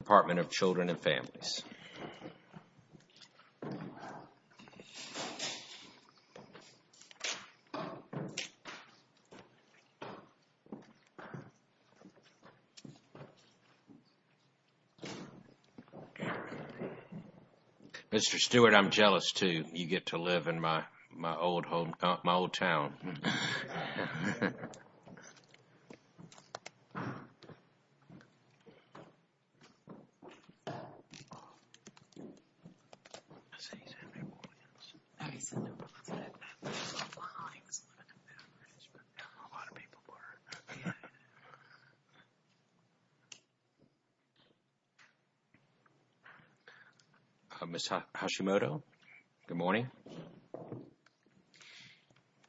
Department of Children and Families Mr. Stewart, I'm jealous too. You get to live in my old home, my old town. A lot of people are. Ms. Hashimoto, good morning.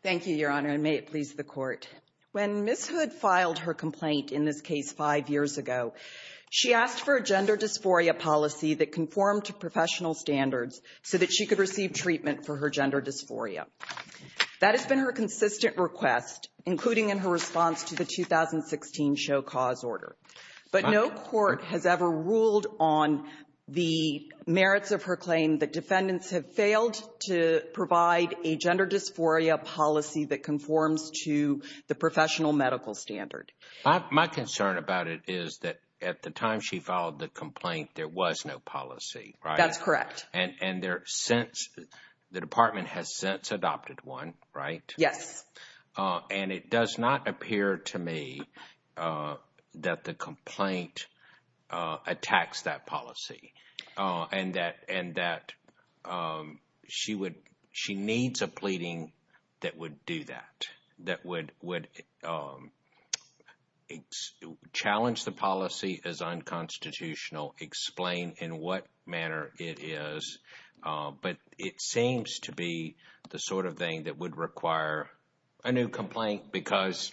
Thank you, Your Honor, and may it please the Court. When Ms. Hood filed her complaint in this case five years ago, she asked for a gender dysphoria policy that conformed to professional standards so that she could receive treatment for her gender dysphoria. That has been her consistent request, including in her response to the 2016 Show Cause order. But no court has ever ruled on the merits of her claim that defendants have failed to provide a gender dysphoria policy that conforms to the professional medical standard. My concern about it is that at the time she filed the complaint, there was no policy. That's correct. And the Department has since adopted one, right? Yes. And it does not appear to me that the complaint attacks that policy and that she needs a pleading that would do that, that would challenge the policy as unconstitutional, explain in what manner it is. But it seems to be the sort of thing that would require a new complaint because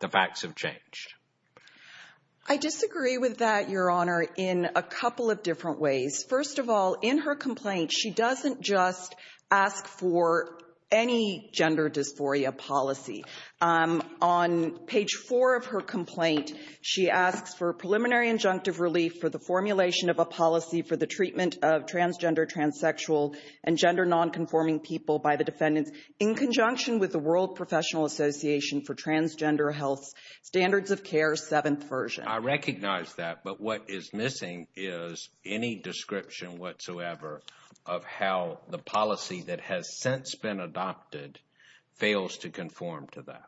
the facts have changed. I disagree with that, Your Honor, in a couple of different ways. First of all, in her complaint, she doesn't just ask for any gender dysphoria policy. On page four of her complaint, she asks for preliminary injunctive relief for the formulation of a policy for the treatment of transgender, transsexual and gender nonconforming people by the defendants in conjunction with the World Professional Association for Transgender Health Standards of Care, seventh version. I recognize that. But what is missing is any description whatsoever of how the policy that has since been adopted fails to conform to that.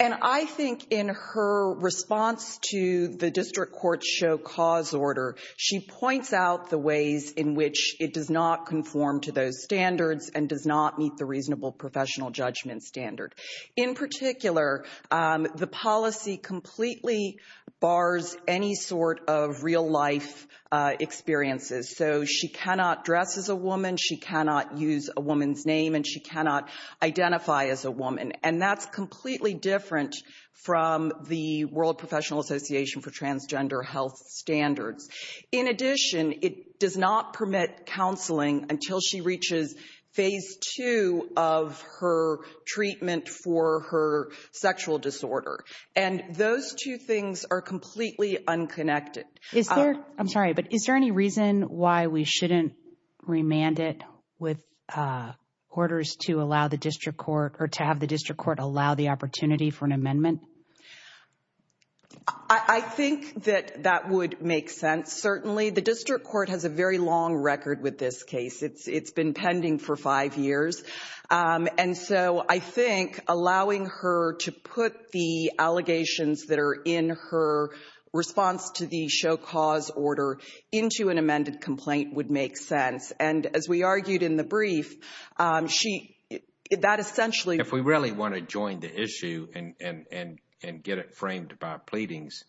And I think in her response to the district court show cause order, she points out the ways in which it does not conform to those standards and does not meet the reasonable professional judgment standard. In particular, the policy completely bars any sort of real life experiences. So she cannot dress as a woman, she cannot use a woman's name, and she cannot identify as a woman. And that's completely different from the World Professional Association for Transgender Health Standards. In addition, it does not permit counseling until she reaches phase two of her treatment for her sexual disorder. And those two things are completely unconnected. Is there I'm sorry, but is there any reason why we shouldn't remand it with orders to allow the district court or to have the district court allow the opportunity for an amendment? I think that that would make sense. Certainly, the district court has a very long record with this case. It's been pending for five years. And so I think allowing her to put the allegations that are in her response to the show cause order into an amended complaint would make sense. And as we argued in the brief, she that essentially. If we really want to join the issue and get it framed by pleadings,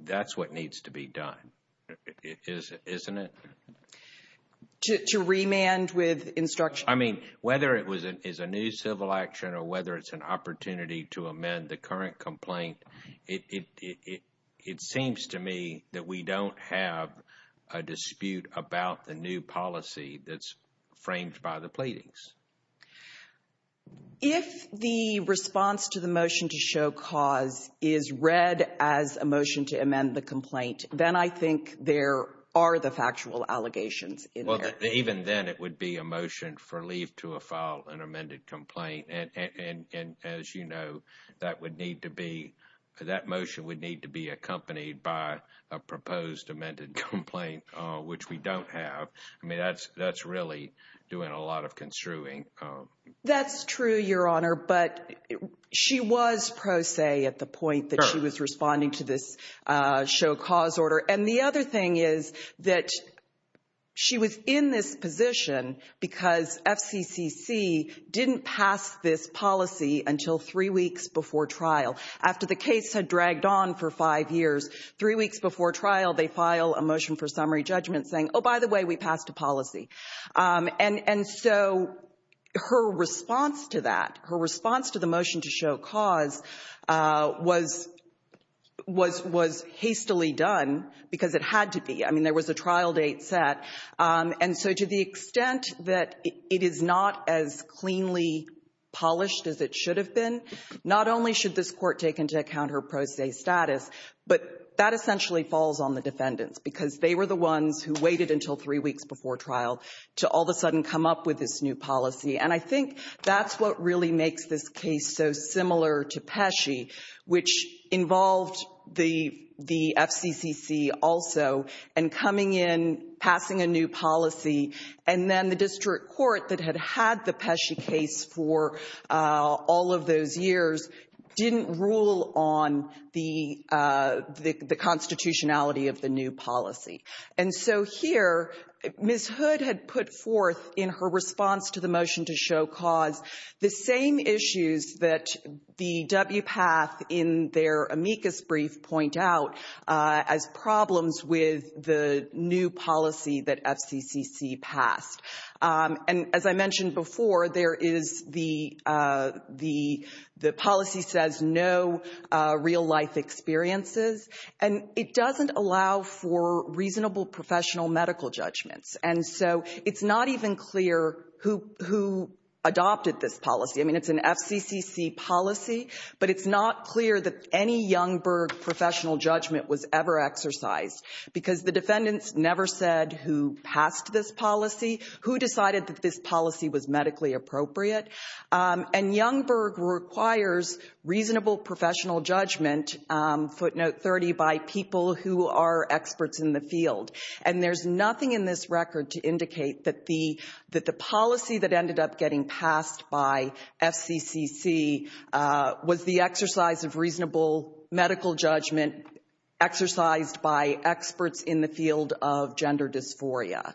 that's what needs to be done, isn't it? To remand with instruction. I mean, whether it was is a new civil action or whether it's an opportunity to amend the current complaint. It seems to me that we don't have a dispute about the new policy that's framed by the pleadings. If the response to the motion to show cause is read as a motion to amend the complaint, then I think there are the factual allegations. Well, even then, it would be a motion for leave to a file and amended complaint. And as you know, that would need to be that motion would need to be accompanied by a proposed amended complaint, which we don't have. I mean, that's that's really doing a lot of construing. That's true, Your Honor. But she was pro se at the point that she was responding to this show cause order. And the other thing is that she was in this position because FCCC didn't pass this policy until three weeks before trial. After the case had dragged on for five years, three weeks before trial, they file a motion for summary judgment saying, oh, by the way, we passed a policy. And so her response to that, her response to the motion to show cause was hastily done because it had to be. I mean, there was a trial date set. And so to the extent that it is not as cleanly polished as it should have been, not only should this court take into account her pro se status, but that essentially falls on the defendants because they were the ones who waited until three weeks before trial to all of a sudden come up with this new policy. And I think that's what really makes this case so similar to Pesci, which involved the FCCC also and coming in, passing a new policy. And then the district court that had had the Pesci case for all of those years didn't rule on the constitutionality of the new policy. And so here, Ms. Hood had put forth in her response to the motion to show cause the same issues that the WPATH in their amicus brief point out as problems with the new policy that FCCC passed. And as I mentioned before, there is the policy says no real life experiences. And it doesn't allow for reasonable professional medical judgments. And so it's not even clear who adopted this policy. I mean, it's an FCCC policy, but it's not clear that any Youngberg professional judgment was ever exercised because the defendants never said who passed this policy. Who decided that this policy was medically appropriate? And Youngberg requires reasonable professional judgment, footnote 30, by people who are experts in the field. And there's nothing in this record to indicate that the policy that ended up getting passed by FCCC was the exercise of reasonable medical judgment exercised by experts in the field of gender dysphoria.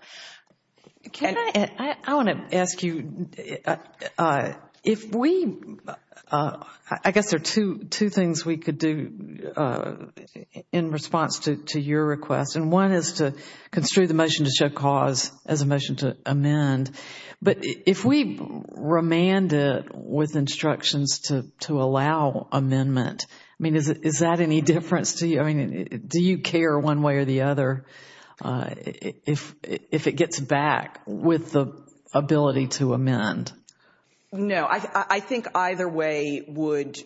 I want to ask you, if we, I guess there are two things we could do in response to your request. And one is to construe the motion to show cause as a motion to amend. But if we remand it with instructions to allow amendment, I mean, is that any difference to you? I mean, do you care one way or the other if it gets back with the ability to amend? No, I think either way would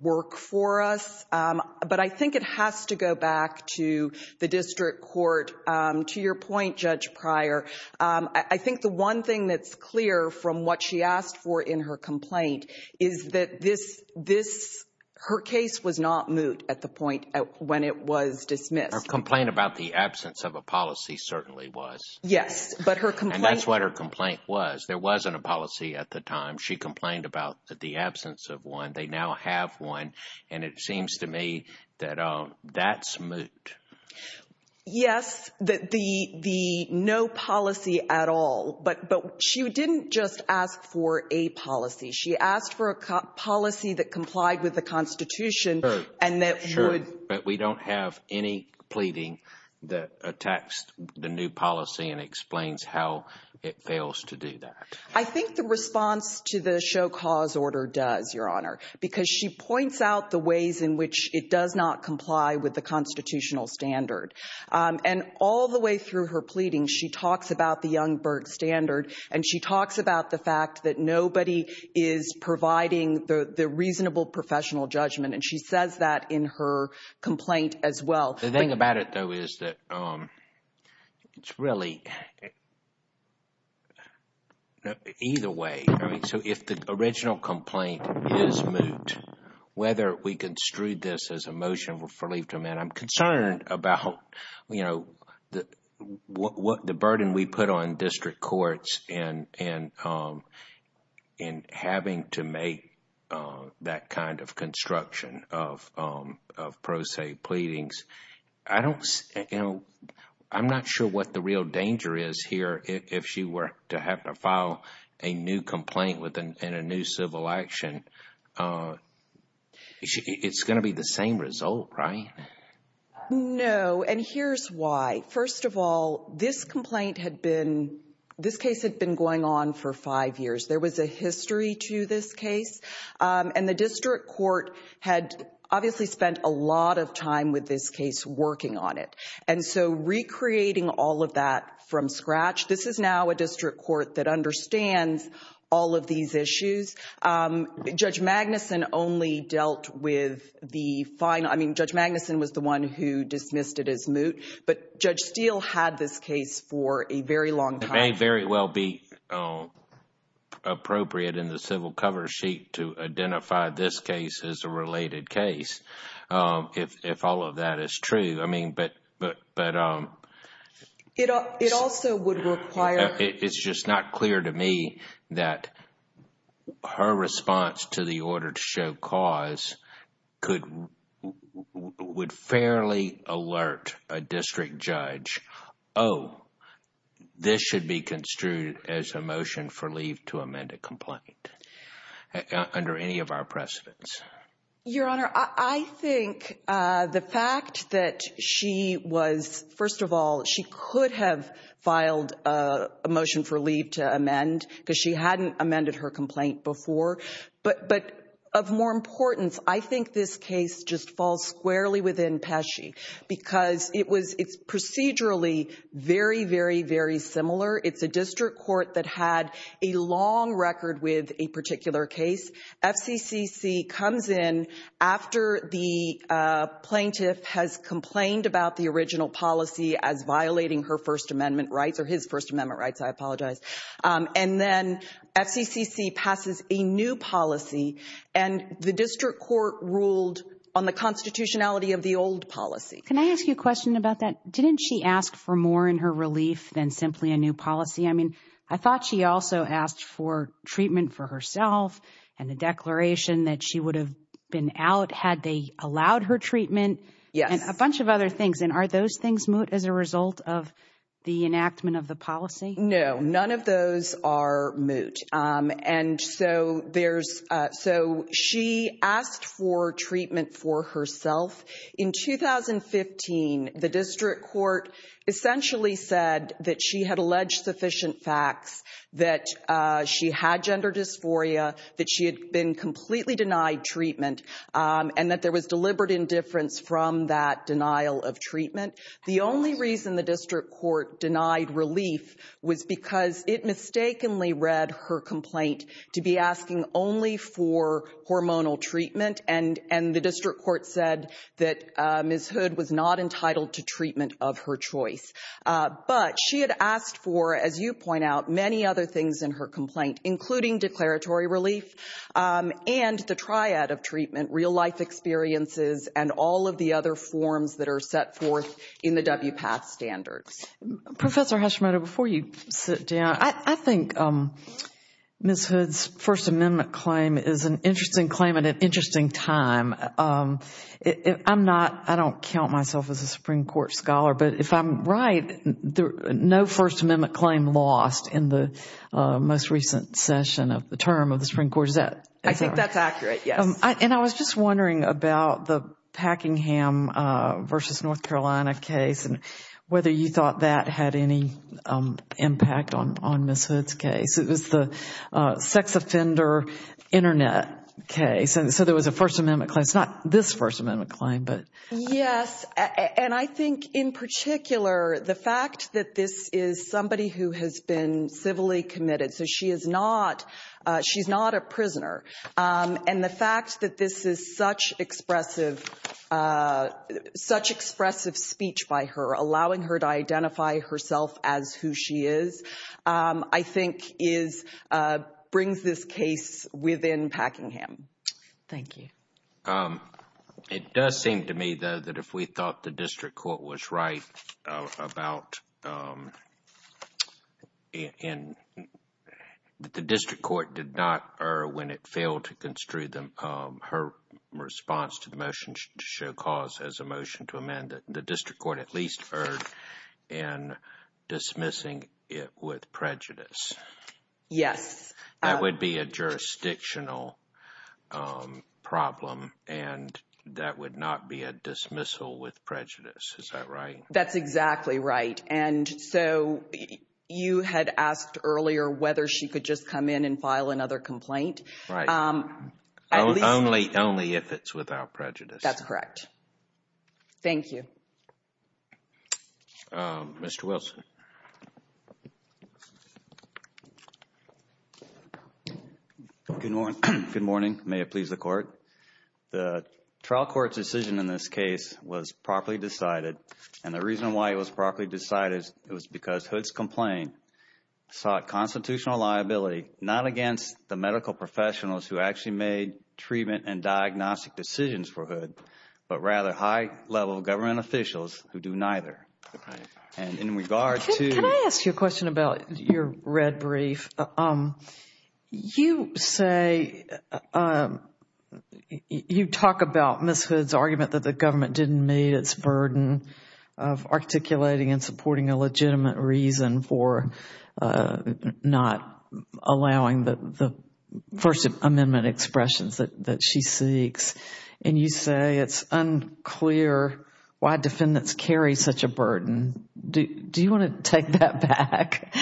work for us. But I think it has to go back to the district court. To your point, Judge Pryor, I think the one thing that's clear from what she asked for in her complaint is that her case was not moot at the point when it was dismissed. Her complaint about the absence of a policy certainly was. Yes, but her complaint. And that's what her complaint was. There wasn't a policy at the time. She complained about the absence of one. They now have one. And it seems to me that that's moot. Yes, the no policy at all. But she didn't just ask for a policy. She asked for a policy that complied with the Constitution and that would. Sure, but we don't have any pleading that attacks the new policy and explains how it fails to do that. I think the response to the show cause order does, Your Honor, because she points out the ways in which it does not comply with the constitutional standard. And all the way through her pleading, she talks about the Youngberg standard. And she talks about the fact that nobody is providing the reasonable professional judgment. And she says that in her complaint as well. The thing about it, though, is that it's really either way. So if the original complaint is moot, whether we construed this as a motion for relief to amend, I'm concerned about, you know, the burden we put on district courts and in having to make that kind of construction of pro se pleadings. I don't know. I'm not sure what the real danger is here. If she were to have to file a new complaint within a new civil action, it's going to be the same result, right? No. And here's why. First of all, this complaint had been, this case had been going on for five years. There was a history to this case. And the district court had obviously spent a lot of time with this case working on it. And so recreating all of that from scratch, this is now a district court that understands all of these issues. Judge Magnuson only dealt with the final. I mean, Judge Magnuson was the one who dismissed it as moot. But Judge Steele had this case for a very long time. It may very well be appropriate in the civil cover sheet to identify this case as a related case, if all of that is true. But it also would require. It's just not clear to me that her response to the order to show cause would fairly alert a district judge. Oh, this should be construed as a motion for leave to amend a complaint under any of our precedents. Your Honor, I think the fact that she was, first of all, she could have filed a motion for leave to amend because she hadn't amended her complaint before. But of more importance, I think this case just falls squarely within Pesce because it was procedurally very, very, very similar. It's a district court that had a long record with a particular case. FCCC comes in after the plaintiff has complained about the original policy as violating her First Amendment rights or his First Amendment rights. I apologize. And then FCCC passes a new policy. And the district court ruled on the constitutionality of the old policy. Can I ask you a question about that? Didn't she ask for more in her relief than simply a new policy? I mean, I thought she also asked for treatment for herself and a declaration that she would have been out had they allowed her treatment. Yes. And a bunch of other things. And are those things moot as a result of the enactment of the policy? No, none of those are moot. And so there's so she asked for treatment for herself. In 2015, the district court essentially said that she had alleged sufficient facts, that she had gender dysphoria, that she had been completely denied treatment and that there was deliberate indifference from that denial of treatment. The only reason the district court denied relief was because it mistakenly read her complaint to be asking only for hormonal treatment. And the district court said that Ms. Hood was not entitled to treatment of her choice. But she had asked for, as you point out, many other things in her complaint, including declaratory relief and the triad of treatment, real life experiences and all of the other forms that are set forth in the WPATH standards. Professor Hashimoto, before you sit down, I think Ms. Hood's First Amendment claim is an interesting claim at an interesting time. I'm not I don't count myself as a Supreme Court scholar, but if I'm right, no First Amendment claim lost in the most recent session of the term of the Supreme Court. I think that's accurate. Yes. And I was just wondering about the Packingham versus North Carolina case and whether you thought that had any impact on on Ms. Hood's case. It was the sex offender Internet case. And so there was a First Amendment claim. It's not this First Amendment claim, but. Yes. And I think in particular, the fact that this is somebody who has been civilly committed, so she is not she's not a prisoner. And the fact that this is such expressive, such expressive speech by her, allowing her to identify herself as who she is, I think is brings this case within Packingham. Thank you. It does seem to me, though, that if we thought the district court was right about in the district court did not or when it failed to construe them, her response to the motion to show cause as a motion to amend the district court at least heard and dismissing it with prejudice. Yes, that would be a jurisdictional problem. And that would not be a dismissal with prejudice. Is that right? That's exactly right. And so you had asked earlier whether she could just come in and file another complaint. Right. Only only if it's without prejudice. That's correct. Thank you, Mr. Wilson. Good morning. Good morning. May it please the court. The trial court's decision in this case was properly decided. And the reason why it was properly decided was because Hood's complaint sought constitutional liability, not against the medical professionals who actually made treatment and diagnostic decisions for Hood, but rather high level government officials who do neither. And in regard to... Can I ask you a question about your red brief? You say you talk about Ms. Hood's argument that the government didn't meet its burden of articulating and supporting a legitimate reason for not allowing the First Amendment expressions that she seeks. And you say it's unclear why defendants carry such a burden. Do you want to take that back?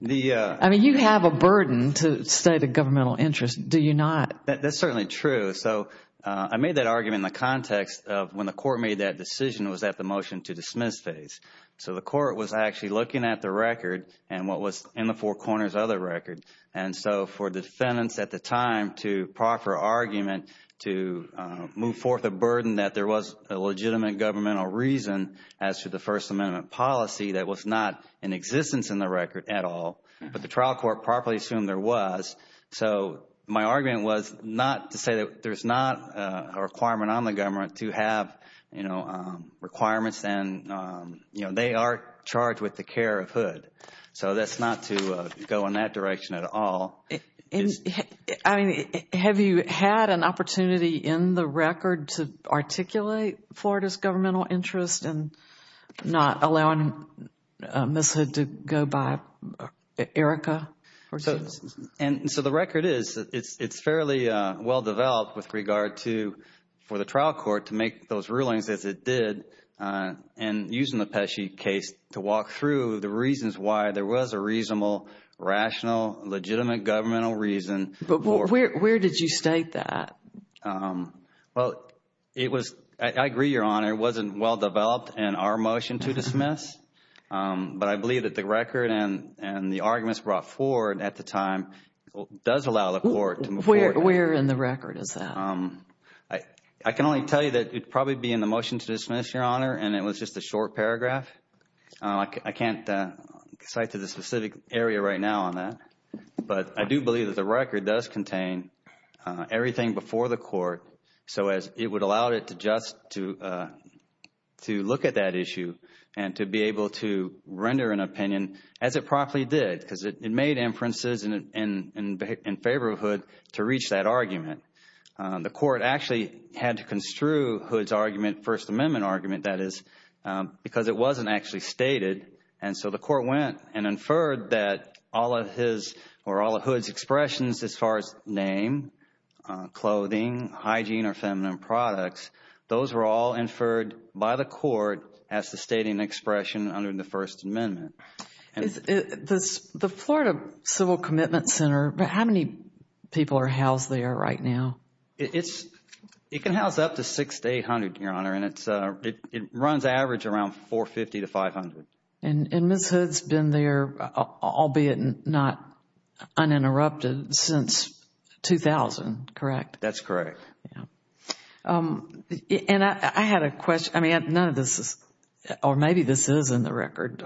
I mean, you have a burden to state a governmental interest. Do you not? That's certainly true. So I made that argument in the context of when the court made that decision was at the motion to dismiss phase. So the court was actually looking at the record and what was in the four corners of the record. And so for defendants at the time to proffer argument to move forth a burden that there was a legitimate governmental reason as to the First Amendment policy that was not in existence in the record at all, but the trial court properly assumed there was. So my argument was not to say that there's not a requirement on the government to have requirements. And they are charged with the care of Hood. So that's not to go in that direction at all. I mean, have you had an opportunity in the record to articulate Florida's governmental interest in not allowing Ms. Hood to go by Erica? And so the record is, it's fairly well developed with regard to, for the trial court to make those rulings as it did and using the Pesce case to walk through the reasons why there was a reasonable, rational, legitimate governmental reason. But where did you state that? Well, it was, I agree, Your Honor, it wasn't well developed in our motion to dismiss. But I believe that the record and the arguments brought forward at the time does allow the court to move forward. Where in the record is that? I can only tell you that it would probably be in the motion to dismiss, Your Honor, and it was just a short paragraph. I can't cite to the specific area right now on that. But I do believe that the record does contain everything before the court so as it would allow it to just to look at that issue and to be able to render an opinion as it properly did because it made inferences in favor of Hood to reach that argument. The court actually had to construe Hood's argument, First Amendment argument, that is, because it wasn't actually stated. And so the court went and inferred that all of his or all of Hood's expressions as far as name, clothing, hygiene, or feminine products, those were all inferred by the court as the stating expression under the First Amendment. The Florida Civil Commitment Center, how many people are housed there right now? It can house up to 6,800, Your Honor, and it runs average around 450 to 500. And Ms. Hood's been there, albeit not uninterrupted, since 2000, correct? That's correct. And I had a question. I mean, none of this is or maybe this is in the record.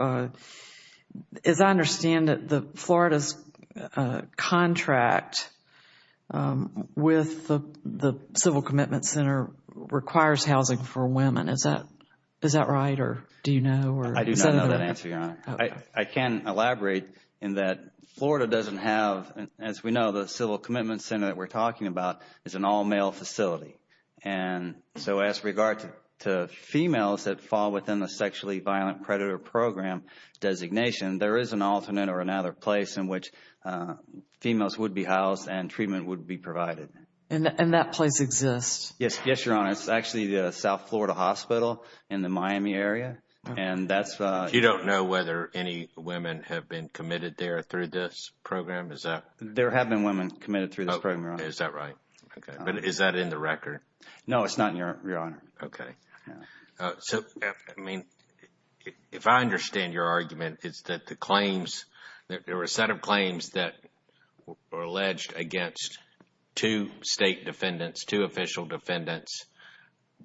As I understand it, Florida's contract with the Civil Commitment Center requires housing for women. Is that right or do you know? I do not know that answer, Your Honor. I can elaborate in that Florida doesn't have, as we know, the Civil Commitment Center that we're talking about is an all-male facility. And so as regards to females that fall within the Sexually Violent Predator Program designation, there is an alternate or another place in which females would be housed and treatment would be provided. And that place exists? Yes, Your Honor. It's actually the South Florida Hospital in the Miami area. You don't know whether any women have been committed there through this program? There have been women committed through this program, Your Honor. Is that right? Okay. But is that in the record? No, it's not, Your Honor. Okay. So, I mean, if I understand your argument, it's that the claims, there were a set of claims that were alleged against two state defendants, two official defendants,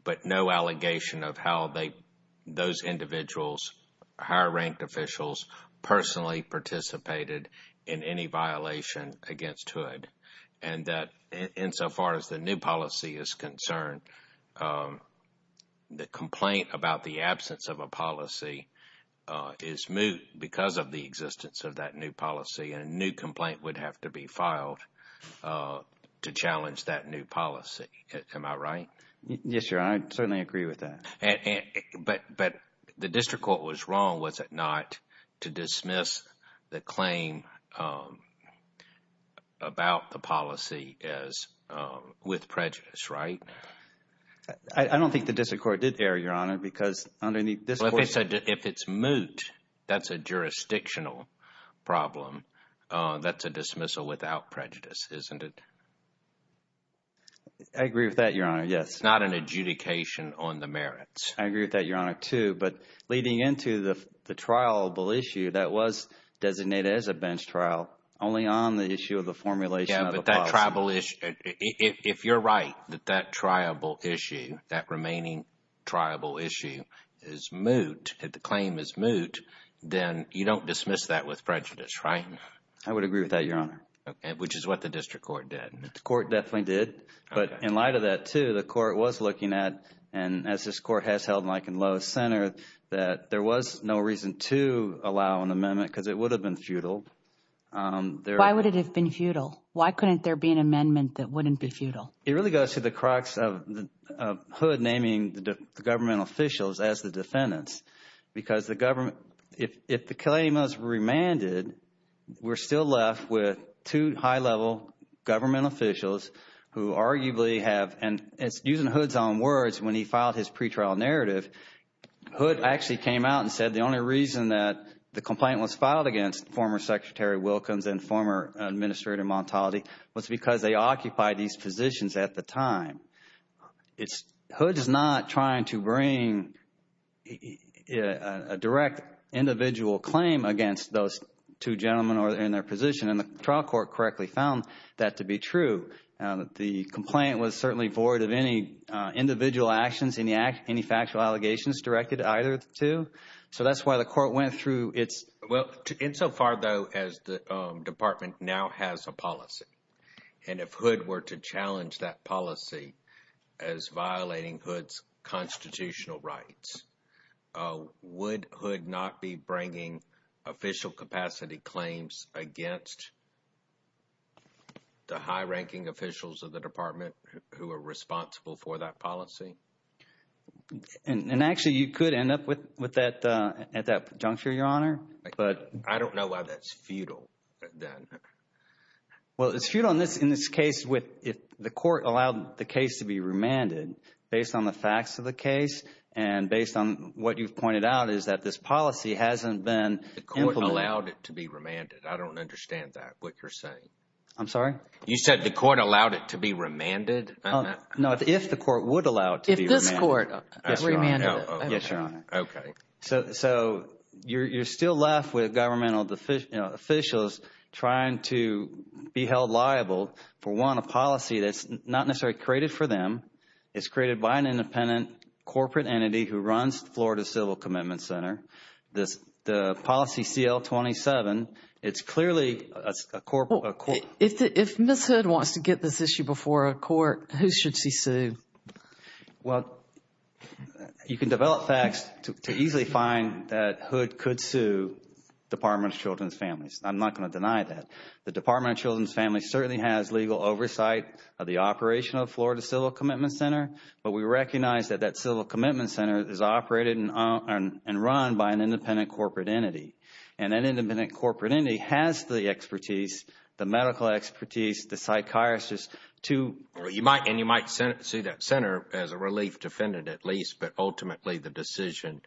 but no allegation of how those individuals, higher-ranked officials, personally participated in any violation against Hood. And that insofar as the new policy is concerned, the complaint about the absence of a policy is moot because of the existence of that new policy. And a new complaint would have to be filed to challenge that new policy. Am I right? Yes, Your Honor. I certainly agree with that. But the district court was wrong, was it not, to dismiss the claim about the policy as with prejudice, right? I don't think the district court did err, Your Honor, because underneath this… Well, if it's moot, that's a jurisdictional problem. That's a dismissal without prejudice, isn't it? I agree with that, Your Honor, yes. It's not an adjudication on the merits. I agree with that, Your Honor, too, but leading into the triable issue that was designated as a bench trial, only on the issue of the formulation of the policy. Yeah, but that triable issue, if you're right that that triable issue, that remaining triable issue is moot, that the claim is moot, then you don't dismiss that with prejudice, right? I would agree with that, Your Honor. Okay, which is what the district court did. The court definitely did, but in light of that, too, the court was looking at, and as this court has held Mike and Lowe's Center, that there was no reason to allow an amendment because it would have been futile. Why would it have been futile? Why couldn't there be an amendment that wouldn't be futile? It really goes to the crux of HUD naming the government officials as the defendants because the government, if the claim is remanded, we're still left with two high-level government officials who arguably have, and using HUD's own words when he filed his pretrial narrative, HUD actually came out and said the only reason that the complaint was filed against former Secretary Wilkins and former Administrator Montali was because they occupied these positions at the time. HUD is not trying to bring a direct individual claim against those two gentlemen in their position, and the trial court correctly found that to be true. The complaint was certainly void of any individual actions, any factual allegations directed either to, so that's why the court went through its... Well, insofar, though, as the department now has a policy, and if HUD were to challenge that policy as violating HUD's constitutional rights, would HUD not be bringing official capacity claims against the high-ranking officials of the department who are responsible for that policy? And actually, you could end up with that at that juncture, Your Honor, but... I don't know why that's futile then. Well, it's futile in this case if the court allowed the case to be remanded based on the facts of the case and based on what you've pointed out is that this policy hasn't been implemented... The court allowed it to be remanded. I don't understand that, what you're saying. I'm sorry? You said the court allowed it to be remanded? No, if the court would allow it to be remanded. If this court remanded it. Yes, Your Honor. Okay. So you're still left with governmental officials trying to be held liable for, one, a policy that's not necessarily created for them. It's created by an independent corporate entity who runs the Florida Civil Commitment Center. The policy CL-27, it's clearly a court... If Ms. Hood wants to get this issue before a court, who should she sue? Well, you can develop facts to easily find that Hood could sue Department of Children's Families. I'm not going to deny that. The Department of Children's Families certainly has legal oversight of the operation of Florida Civil Commitment Center, but we recognize that that Civil Commitment Center is operated and run by an independent corporate entity. And that independent corporate entity has the expertise, the medical expertise, the psychiatrists to... And you might see that center as a relief defendant at least, but ultimately the decision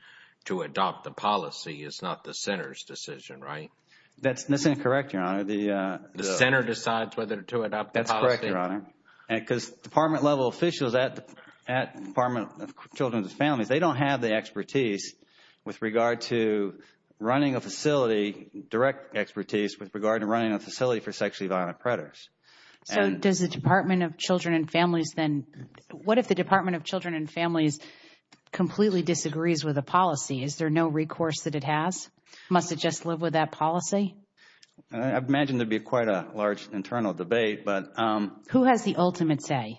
to adopt the policy is not the center's decision, right? That's incorrect, Your Honor. The center decides whether to adopt the policy. That's correct, Your Honor. Because department-level officials at Department of Children's Families, they don't have the expertise with regard to running a facility, direct expertise with regard to running a facility for sexually violent predators. So does the Department of Children and Families then... What if the Department of Children and Families completely disagrees with the policy? Is there no recourse that it has? Must it just live with that policy? I'd imagine there'd be quite a large internal debate, but... Who has the ultimate say?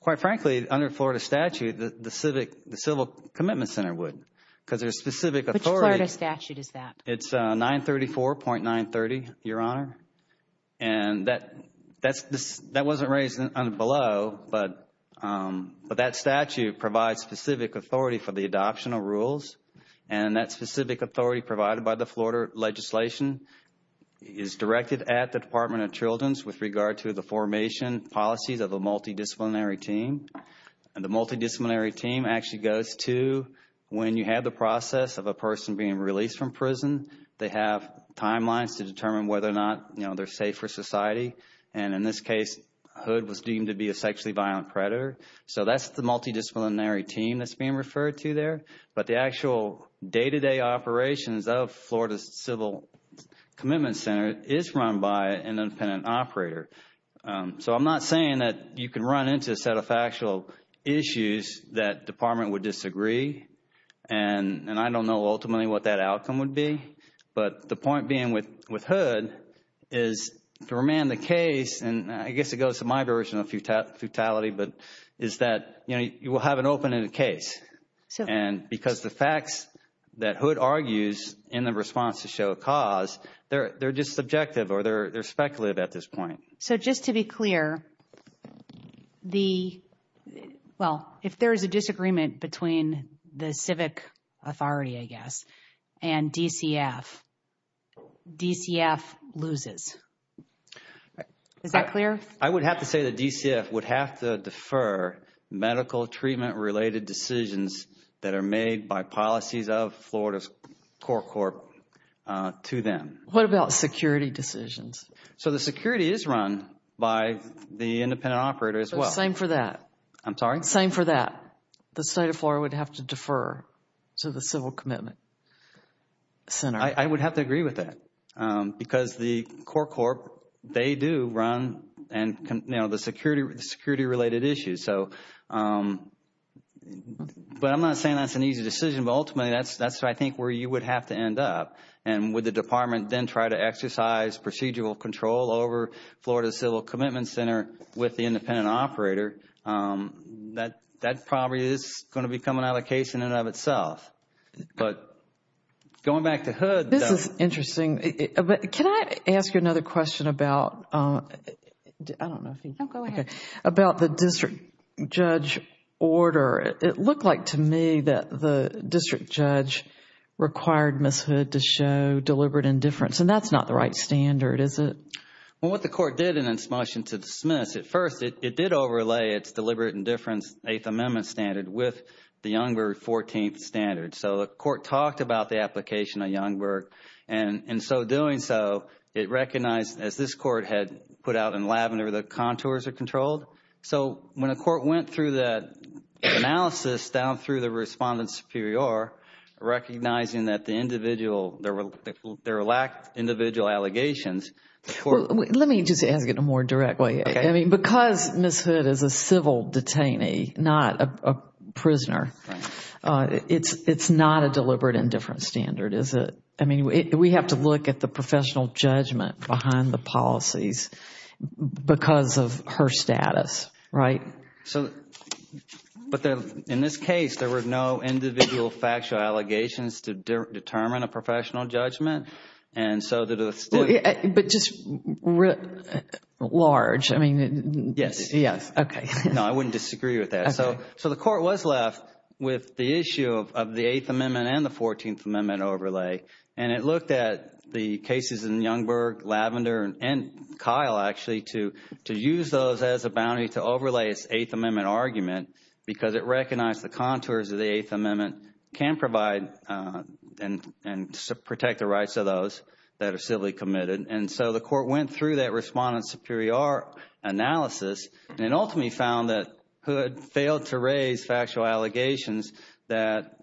Quite frankly, under Florida statute, the Civil Commitment Center would. Because there's specific authority... Which Florida statute is that? It's 934.930, Your Honor. And that wasn't raised below, but that statute provides specific authority for the adoption of rules. And that specific authority provided by the Florida legislation is directed at the Department of Children's with regard to the formation policies of a multidisciplinary team. And the multidisciplinary team actually goes to when you have the process of a person being released from prison. They have timelines to determine whether or not they're safe for society. And in this case, Hood was deemed to be a sexually violent predator. So that's the multidisciplinary team that's being referred to there. But the actual day-to-day operations of Florida's Civil Commitment Center is run by an independent operator. So I'm not saying that you can run into a set of factual issues that the Department would disagree. And I don't know ultimately what that outcome would be. But the point being with Hood is to remand the case, and I guess it goes to my version of futility, but is that you will have an open-ended case. And because the facts that Hood argues in the response to show cause, they're just subjective or they're speculative at this point. So just to be clear, the... the Civic Authority, I guess, and DCF. DCF loses. Is that clear? I would have to say that DCF would have to defer medical treatment-related decisions that are made by policies of Florida's Corp Corp to them. What about security decisions? So the security is run by the independent operator as well. Same for that. I'm sorry? Same for that. The State of Florida would have to defer to the Civil Commitment Center. I would have to agree with that because the Corp Corp, they do run the security-related issues. So, but I'm not saying that's an easy decision, but ultimately that's I think where you would have to end up. And would the Department then try to exercise procedural control over Florida's Civil Commitment Center with the independent operator? That probably is going to become an allocation in and of itself. But going back to Hood... This is interesting. Can I ask you another question about... I don't know if you... No, go ahead. About the district judge order. It looked like to me that the district judge required Ms. Hood to show deliberate indifference, and that's not the right standard, is it? Well, what the Court did in its motion to dismiss, at first it did overlay its deliberate indifference Eighth Amendment standard with the Youngberg 14th standard. So the Court talked about the application of Youngberg, and in so doing so it recognized, as this Court had put out in Lavender, the contours are controlled. So when the Court went through that analysis down through the Respondent Superior, recognizing that the individual, there lacked individual allegations... Let me just ask it in a more direct way. Because Ms. Hood is a civil detainee, not a prisoner, it's not a deliberate indifference standard, is it? I mean, we have to look at the professional judgment behind the policies because of her status, right? But in this case, there were no individual factual allegations to determine a professional judgment, and so the district... But just large, I mean... Yes. Okay. No, I wouldn't disagree with that. So the Court was left with the issue of the Eighth Amendment and the Fourteenth Amendment overlay, and it looked at the cases in Youngberg, Lavender, and Kyle, actually, to use those as a bounty to overlay its Eighth Amendment argument because it recognized the contours of the Eighth Amendment can provide and protect the rights of those that are civilly committed. And so the Court went through that respondent-superior analysis and ultimately found that Hood failed to raise factual allegations that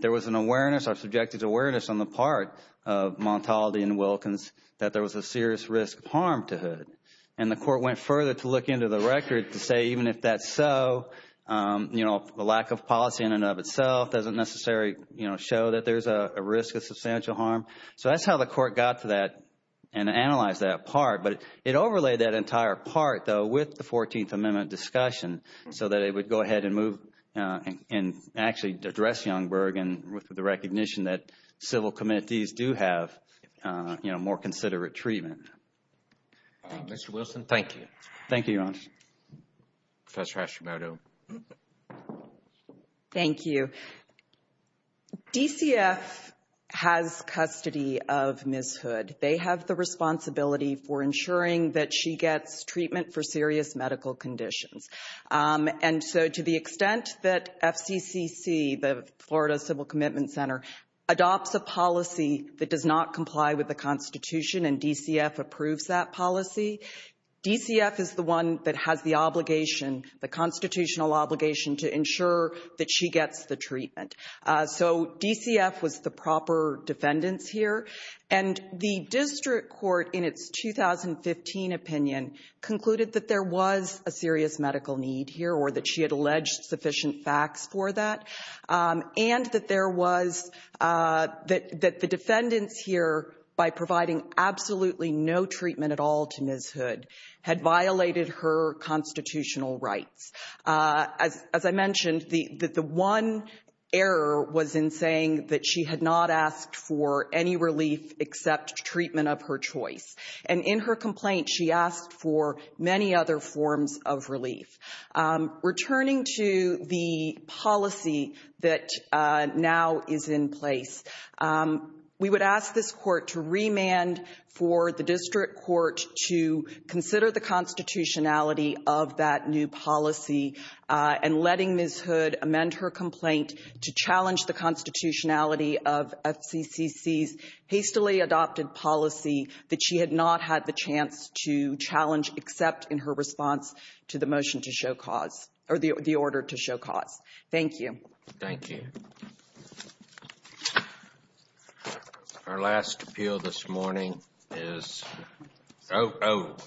there was an awareness, or subjected to awareness on the part of Montaldi and Wilkins, that there was a serious risk of harm to Hood. And the Court went further to look into the record to say, even if that's so, the lack of policy in and of itself doesn't necessarily show that there's a risk of substantial harm. So that's how the Court got to that and analyzed that part. But it overlaid that entire part, though, with the Fourteenth Amendment discussion so that it would go ahead and move and actually address Youngberg with the recognition that civil committees do have more considerate treatment. Mr. Wilson, thank you. Thank you, Your Honor. Professor Hashimoto. Thank you. DCF has custody of Ms. Hood. They have the responsibility for ensuring that she gets treatment for serious medical conditions. And so to the extent that FCCC, the Florida Civil Commitment Center, adopts a policy that does not comply with the Constitution and DCF approves that policy, DCF is the one that has the obligation, the constitutional obligation, to ensure that she gets the treatment. So DCF was the proper defendants here. And the district court, in its 2015 opinion, concluded that there was a serious medical need here or that she had alleged sufficient facts for that and that the defendants here, by providing absolutely no treatment at all to Ms. Hood, had violated her constitutional rights. As I mentioned, the one error was in saying that she had not asked for any relief except treatment of her choice. And in her complaint, she asked for many other forms of relief. Returning to the policy that now is in place, we would ask this court to remand for the district court to consider the constitutionality of that new policy and letting Ms. Hood amend her complaint to challenge the constitutionality of FCCC's hastily adopted policy that she had not had the chance to challenge except in her response to the order to show cause. Thank you. Thank you. Thank you. Our last appeal this morning is out.